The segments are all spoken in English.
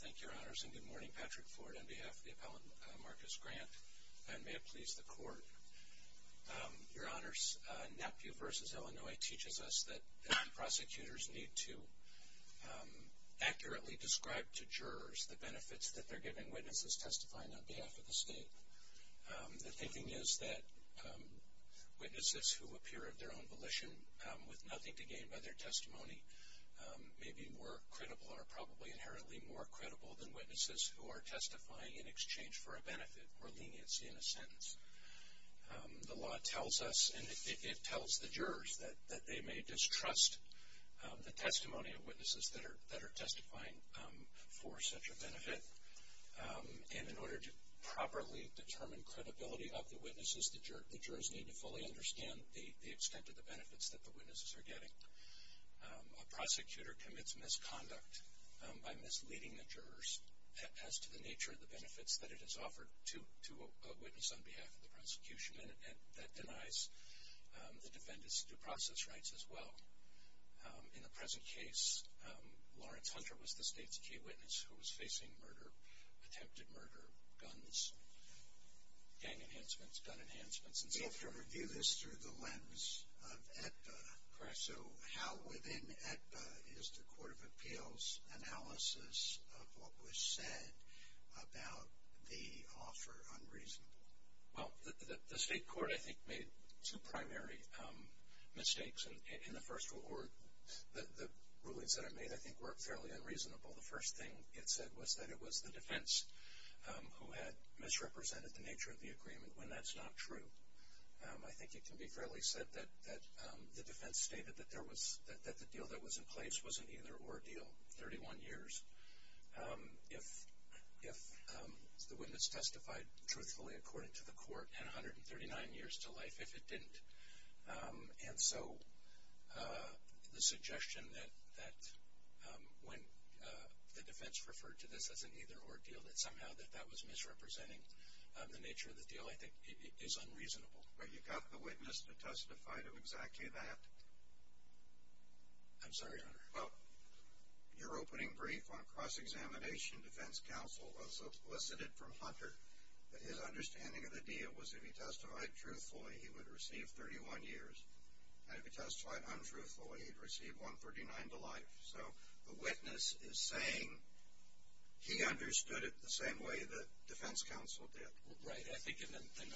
Thank you, Your Honors, and good morning. Patrick Ford on behalf of the appellant Marcus Grant, and may it please the Court. Your Honors, NAPU v. Illinois teaches us that prosecutors need to accurately describe to jurors the benefits that they're giving witnesses testifying on behalf of the state. The thinking is that witnesses who appear of their own volition with nothing to gain by their testimony may be more credible or probably inherently more credible than witnesses who are testifying in exchange for a benefit or leniency in a sentence. The law tells us, and it tells the jurors, that they may distrust the testimony of witnesses that are testifying for such a benefit. And in order to properly determine credibility of the witnesses, the jurors need to fully understand the extent of the benefits that the witnesses are getting. A prosecutor commits misconduct by misleading the jurors as to the nature of the benefits that it has offered to a witness on behalf of the prosecution, and that denies the defendants due process rights as well. In the present case, Lawrence Hunter was the state's key witness who was facing attempted murder, guns, gang enhancements, gun enhancements, and so forth. We have to review this through the lens of AEDPA. Correct. So how, within AEDPA, is the Court of Appeals analysis of what was said about the offer unreasonable? Well, the state court, I think, made two primary mistakes. In the first one, the rulings that it made, I think, were fairly unreasonable. The first thing it said was that it was the defense who had misrepresented the nature of the agreement when that's not true. I think it can be fairly said that the defense stated that the deal that was in place was an either-or deal, 31 years, if the witness testified truthfully according to the court, and 139 years to life if it didn't. And so the suggestion that when the defense referred to this as an either-or deal, that somehow that that was misrepresenting the nature of the deal, I think, is unreasonable. But you got the witness to testify to exactly that? I'm sorry, Your Honor. Well, your opening brief on cross-examination defense counsel elicited from Hunter that his understanding of the deal was if he testified truthfully, he would receive 31 years, and if he testified untruthfully, he'd receive 139 to life. So the witness is saying he understood it the same way the defense counsel did. Right.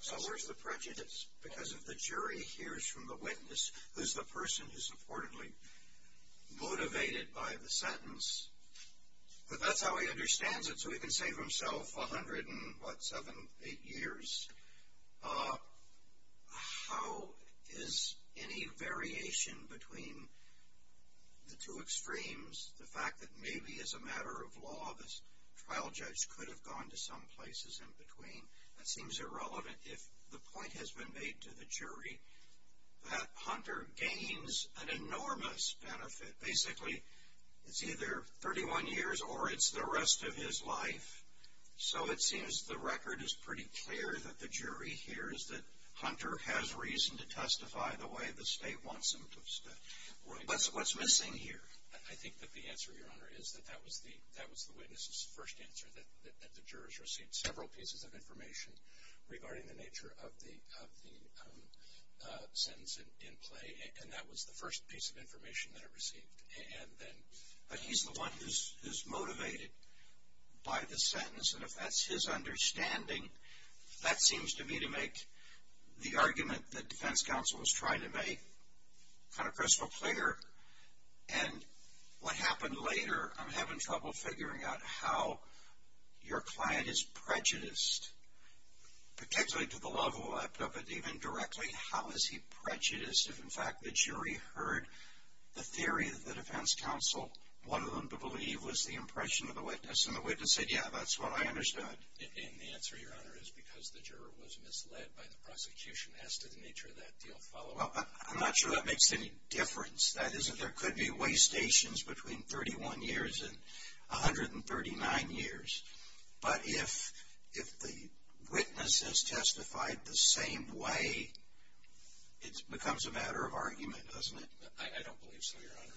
So where's the prejudice? Because if the jury hears from the witness, who's the person who's reportedly motivated by the sentence, that that's how he understands it, so he can save himself 100 and what, 7, 8 years. How is any variation between the two extremes, the fact that maybe as a matter of law this trial judge could have gone to some places in between? That seems irrelevant if the point has been made to the jury that Hunter gains an enormous benefit. Basically, it's either 31 years or it's the rest of his life. So it seems the record is pretty clear that the jury hears that Hunter has reason to testify the way the state wants him to. Right. What's missing here? I think that the answer, Your Honor, is that that was the witness's first answer, that the jurors received several pieces of information regarding the nature of the sentence in play, and that was the first piece of information that it received. But he's the one who's motivated by the sentence. And if that's his understanding, that seems to me to make the argument that defense counsel was trying to make kind of crystal clear. And what happened later, I'm having trouble figuring out how your client is prejudiced, particularly to the level left of it, even directly. How is he prejudiced if, in fact, the jury heard the theory that the defense counsel wanted them to believe was the impression of the witness, and the witness said, yeah, that's what I understood? And the answer, Your Honor, is because the juror was misled by the prosecution as to the nature of that deal follow-up. I'm not sure that makes any difference. That is, there could be wastations between 31 years and 139 years. But if the witness has testified the same way, it becomes a matter of argument, doesn't it? I don't believe so, Your Honor.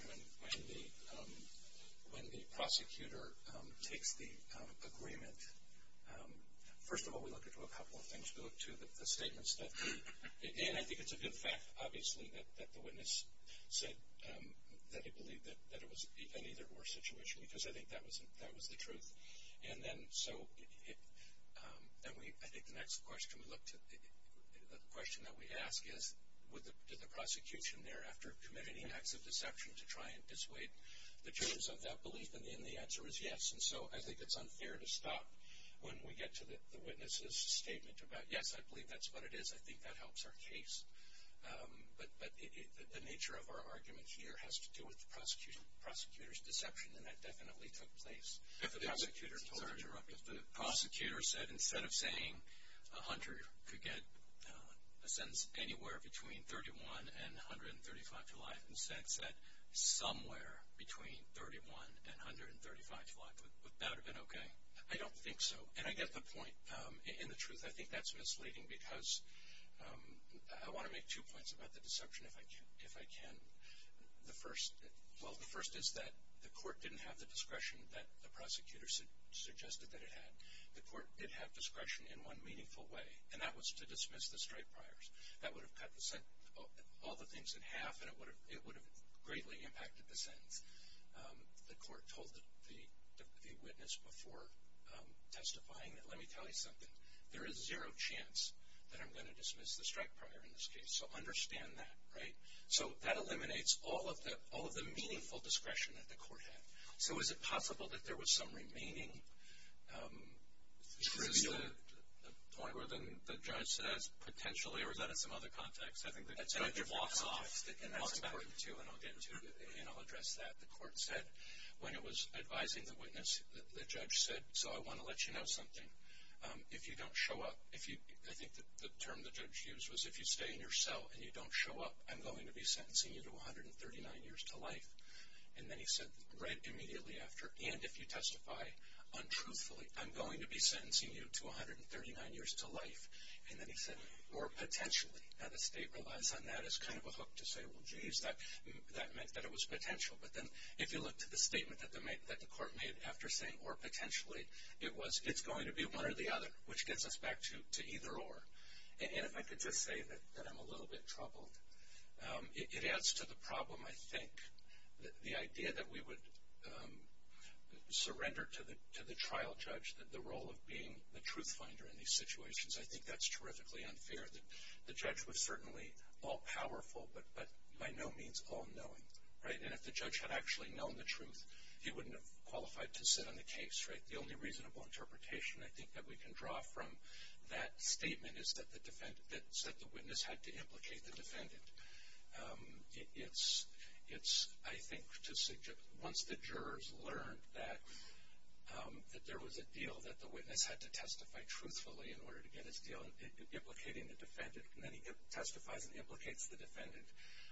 When the prosecutor takes the agreement, first of all, we look into a couple of things. We look to the statements that the ‑‑ and I think it's a good fact, obviously, that the witness said that he believed that it was an either-or situation because I think that was the truth. So I think the next question we look to, the question that we ask is, did the prosecution thereafter commit any acts of deception to try and dissuade the jurors of that belief? And the answer is yes. And so I think it's unfair to stop when we get to the witness's statement about, yes, I believe that's what it is. I think that helps our case. But the nature of our argument here has to do with the prosecutor's deception, and that definitely took place. If the prosecutor said, instead of saying a hunter could get a sentence anywhere between 31 and 135 to life, instead said somewhere between 31 and 135 to life, would that have been okay? I don't think so. And I get the point. In the truth, I think that's misleading because I want to make two points about the deception, if I can. The first is that the court didn't have the discretion that the prosecutor suggested that it had. The court did have discretion in one meaningful way, and that was to dismiss the strike priors. That would have cut all the things in half, and it would have greatly impacted the sentence. The court told the witness before testifying that, let me tell you something, there is zero chance that I'm going to dismiss the strike prior in this case, so understand that. Right? So that eliminates all of the meaningful discretion that the court had. So is it possible that there was some remaining? Is this the point where the judge says, potentially, or is that in some other context? I think the judge walks off, and that's important, too, and I'll get into it, and I'll address that. The court said, when it was advising the witness, the judge said, so I want to let you know something. I think the term the judge used was, if you stay in your cell and you don't show up, I'm going to be sentencing you to 139 years to life. And then he said, right immediately after, and if you testify untruthfully, I'm going to be sentencing you to 139 years to life. And then he said, or potentially. Now the state relies on that as kind of a hook to say, well, geez, that meant that it was potential. But then if you look to the statement that the court made after saying, or potentially, it was, it's going to be one or the other, which gets us back to either or. And if I could just say that I'm a little bit troubled, it adds to the problem, I think. The idea that we would surrender to the trial judge the role of being the truth finder in these situations, I think that's terrifically unfair. The judge was certainly all-powerful, but by no means all-knowing, right? And if the judge had actually known the truth, he wouldn't have qualified to sit on the case, right? The only reasonable interpretation I think that we can draw from that statement is that the witness had to implicate the defendant. It's, I think, once the jurors learned that there was a deal that the witness had to testify truthfully in order to get his deal, implicating the defendant, and then he testifies and implicates the defendant,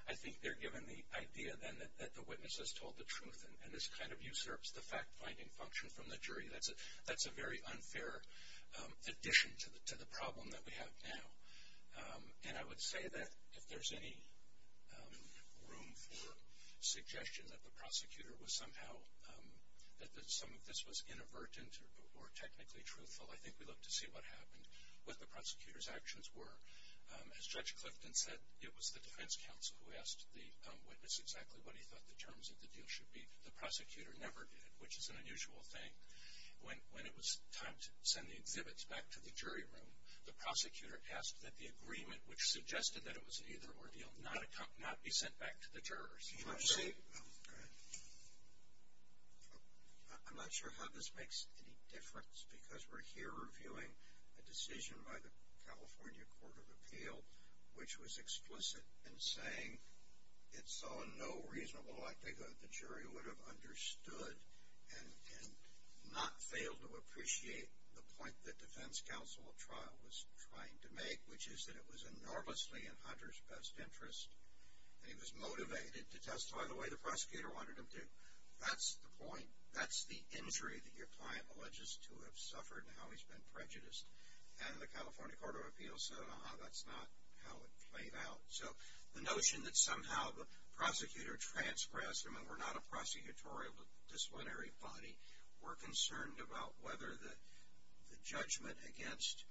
I think they're given the idea then that the witness has told the truth. And this kind of usurps the fact-finding function from the jury. That's a very unfair addition to the problem that we have now. And I would say that if there's any room for suggestion that the prosecutor was somehow, that some of this was inadvertent or technically truthful, I think we look to see what happened, what the prosecutor's actions were. As Judge Clifton said, it was the defense counsel who asked the witness exactly what he thought the terms of the deal should be. The prosecutor never did, which is an unusual thing. When it was time to send the exhibits back to the jury room, the prosecutor asked that the agreement, which suggested that it was an either-or deal, not be sent back to the jurors. I'm not sure how this makes any difference, because we're here reviewing a decision by the California Court of Appeal, which was explicit in saying it saw no reasonable likelihood the jury would have understood and not failed to appreciate the point the defense counsel of trial was trying to make, which is that it was enormously in Hunter's best interest, and he was motivated to testify the way the prosecutor wanted him to. That's the point. That's the injury that your client alleges to have suffered and how he's been prejudiced. And the California Court of Appeal said, uh-huh, that's not how it played out. So the notion that somehow the prosecutor transgressed him and we're not a prosecutorial disciplinary body, we're concerned about whether the judgment against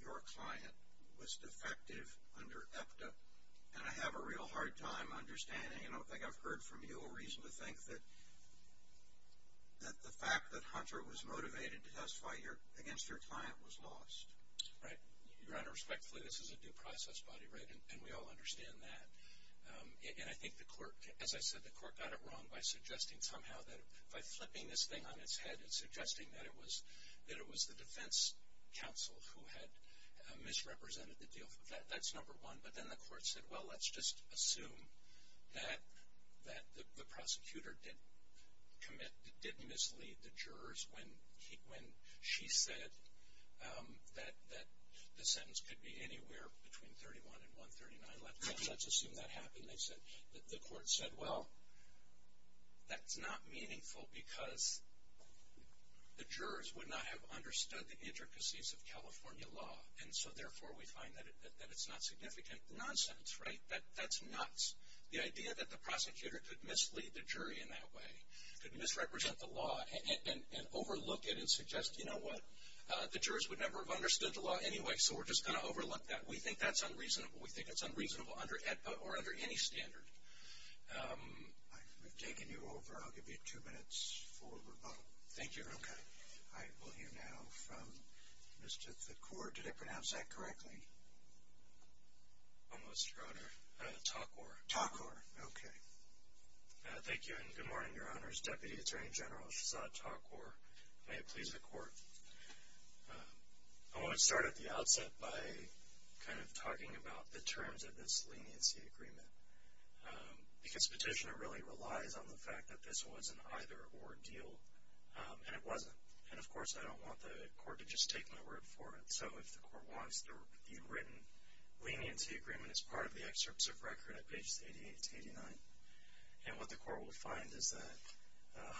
your client was defective under EPTA. And I have a real hard time understanding, and I don't think I've heard from you, a reason to think that the fact that Hunter was motivated to testify against your client was lost. Right. Your Honor, respectfully, this is a due process body, right, and we all understand that. And I think the court, as I said, the court got it wrong by suggesting somehow that, by flipping this thing on its head and suggesting that it was the defense counsel who had misrepresented the deal. That's number one. But then the court said, well, let's just assume that the prosecutor did commit, did mislead the jurors when she said that the sentence could be anywhere between 31 and 139. Let's assume that happened. The court said, well, that's not meaningful because the jurors would not have understood the intricacies of California law. And so, therefore, we find that it's not significant. Nonsense, right? That's nuts. The idea that the prosecutor could mislead the jury in that way, could misrepresent the law, and overlook it and suggest, you know what, the jurors would never have understood the law anyway, so we're just going to overlook that. We think that's unreasonable. We think it's unreasonable under EPTA or under any standard. We've taken you over. I'll give you two minutes for rebuttal. Thank you. Okay. I will hear now from Mr. Thakor. Did I pronounce that correctly? Almost, Your Honor. Thakor. Thakor. Okay. Thank you, and good morning, Your Honors. Deputy Attorney General Shahzad Thakor. May it please the Court. I want to start at the outset by kind of talking about the terms of this leniency agreement, because petitioner really relies on the fact that this was an either-or deal, and it wasn't. And, of course, I don't want the Court to just take my word for it. So if the Court wants the written leniency agreement as part of the excerpts of record at pages 88 to 89, and what the Court will find is that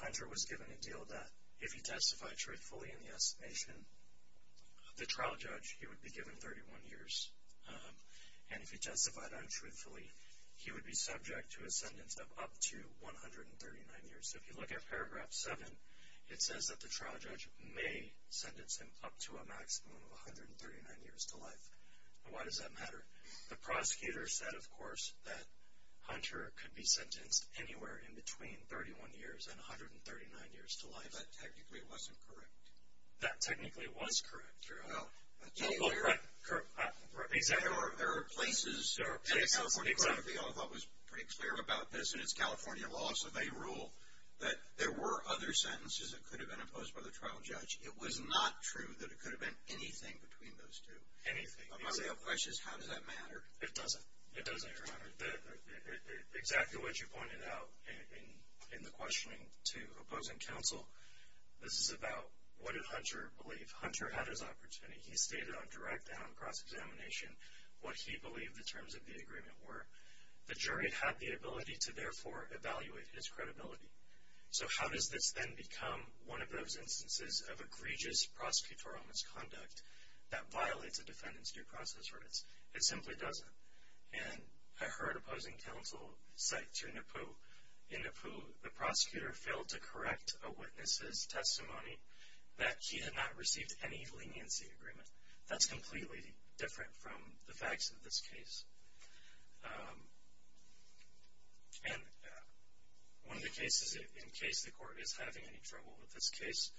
Hunter was given a deal that, if he testified truthfully in the estimation of the trial judge, he would be given 31 years. And if he testified untruthfully, he would be subject to a sentence of up to 139 years. So if you look at paragraph 7, it says that the trial judge may sentence him up to a maximum of 139 years to life. Why does that matter? The prosecutor said, of course, that Hunter could be sentenced anywhere in between 31 years and 139 years to life. That technically wasn't correct. That technically was correct, Your Honor. Right. Exactly. There are places in the California Code that we all thought was pretty clear about this, and it's California law, so they rule that there were other sentences that could have been imposed by the trial judge. It was not true that it could have been anything between those two. Anything. My real question is, how does that matter? It doesn't. It doesn't, Your Honor. Exactly what you pointed out in the questioning to opposing counsel, this is about what did Hunter believe. Hunter had his opportunity. He stated on direct and on cross-examination what he believed the terms of the agreement were. The jury had the ability to, therefore, evaluate his credibility. So how does this then become one of those instances of egregious prosecutorial misconduct that violates a defendant's due process rights? It simply doesn't. And I heard opposing counsel cite to Nippu, the prosecutor failed to correct a witness's testimony that he had not received any leniency agreement. That's completely different from the facts of this case. And one of the cases, in case the court is having any trouble with this case,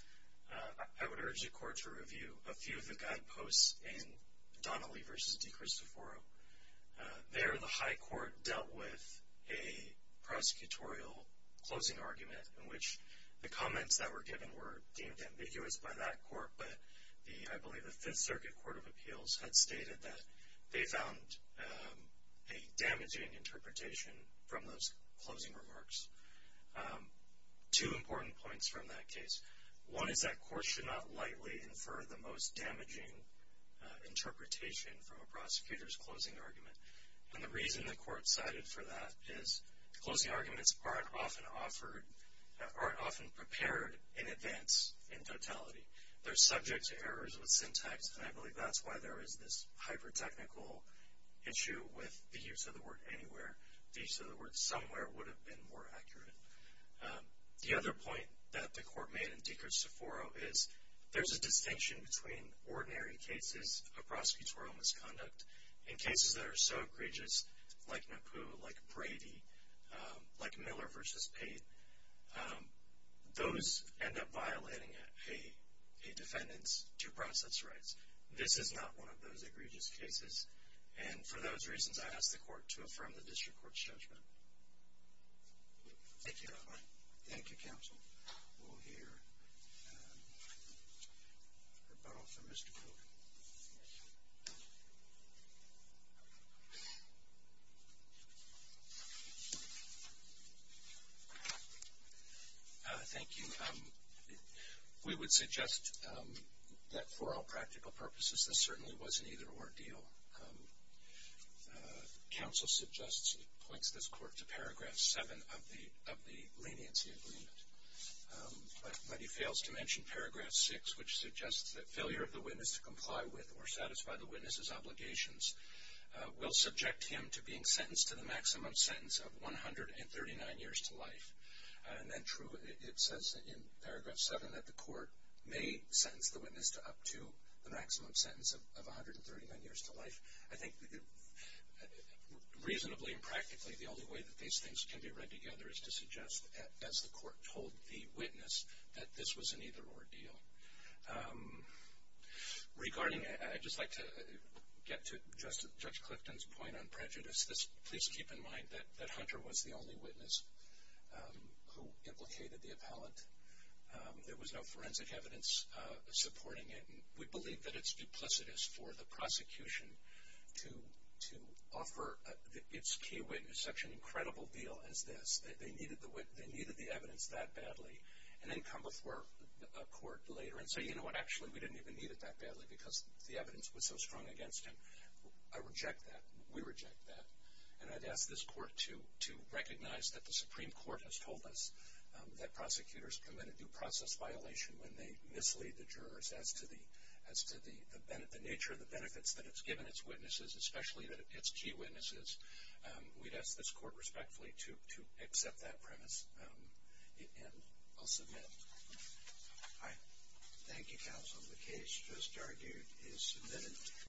I would urge the court to review a few of the guideposts in Donnelly v. DeCristoforo. There, the high court dealt with a prosecutorial closing argument in which the comments that were given were deemed ambiguous by that court, but I believe the Fifth Circuit Court of Appeals had stated that they found a damaging interpretation from those closing remarks. Two important points from that case. One is that courts should not lightly infer the most damaging interpretation from a prosecutor's closing argument. And the reason the court cited for that is closing arguments aren't often prepared in advance in totality. They're subject to errors with syntax, and I believe that's why there is this hyper-technical issue with the use of the word anywhere. The use of the word somewhere would have been more accurate. The other point that the court made in DeCristoforo is there's a distinction between ordinary cases of prosecutorial misconduct and cases that are so egregious like Napoo, like Brady, like Miller v. Pate. Those end up violating a defendant's due process rights. This is not one of those egregious cases, and for those reasons, I ask the court to affirm the district court's judgment. Thank you, Your Honor. Thank you, Counsel. We'll hear a rebuttal from Mr. Cook. Thank you. We would suggest that for all practical purposes, this certainly wasn't either ordeal. Counsel suggests he points this court to Paragraph 7 of the leniency agreement, but he fails to mention Paragraph 6, which suggests that failure of the witness to comply with or satisfy the witness's obligations will subject him to being sentenced to the maximum sentence of 139 years to life. And then true, it says in Paragraph 7 that the court may sentence the witness to up to the maximum sentence of 139 years to life. I think reasonably and practically, the only way that these things can be read together is to suggest, as the court told the witness, that this was an either or deal. Regarding, I'd just like to get to Judge Clifton's point on prejudice. Please keep in mind that Hunter was the only witness who implicated the appellant. There was no forensic evidence supporting it. We believe that it's duplicitous for the prosecution to offer its key witness such an incredible deal as this. They needed the evidence that badly, and then come before a court later and say, you know what, actually we didn't even need it that badly because the evidence was so strong against him. I reject that. We reject that. And I'd ask this court to recognize that the Supreme Court has told us that prosecutors commit a due process violation when they mislead the jurors as to the nature of the benefits that it's given its witnesses, especially its key witnesses. We'd ask this court respectfully to accept that premise, and I'll submit it. Thank you, Counsel. The case, as argued, is submitted.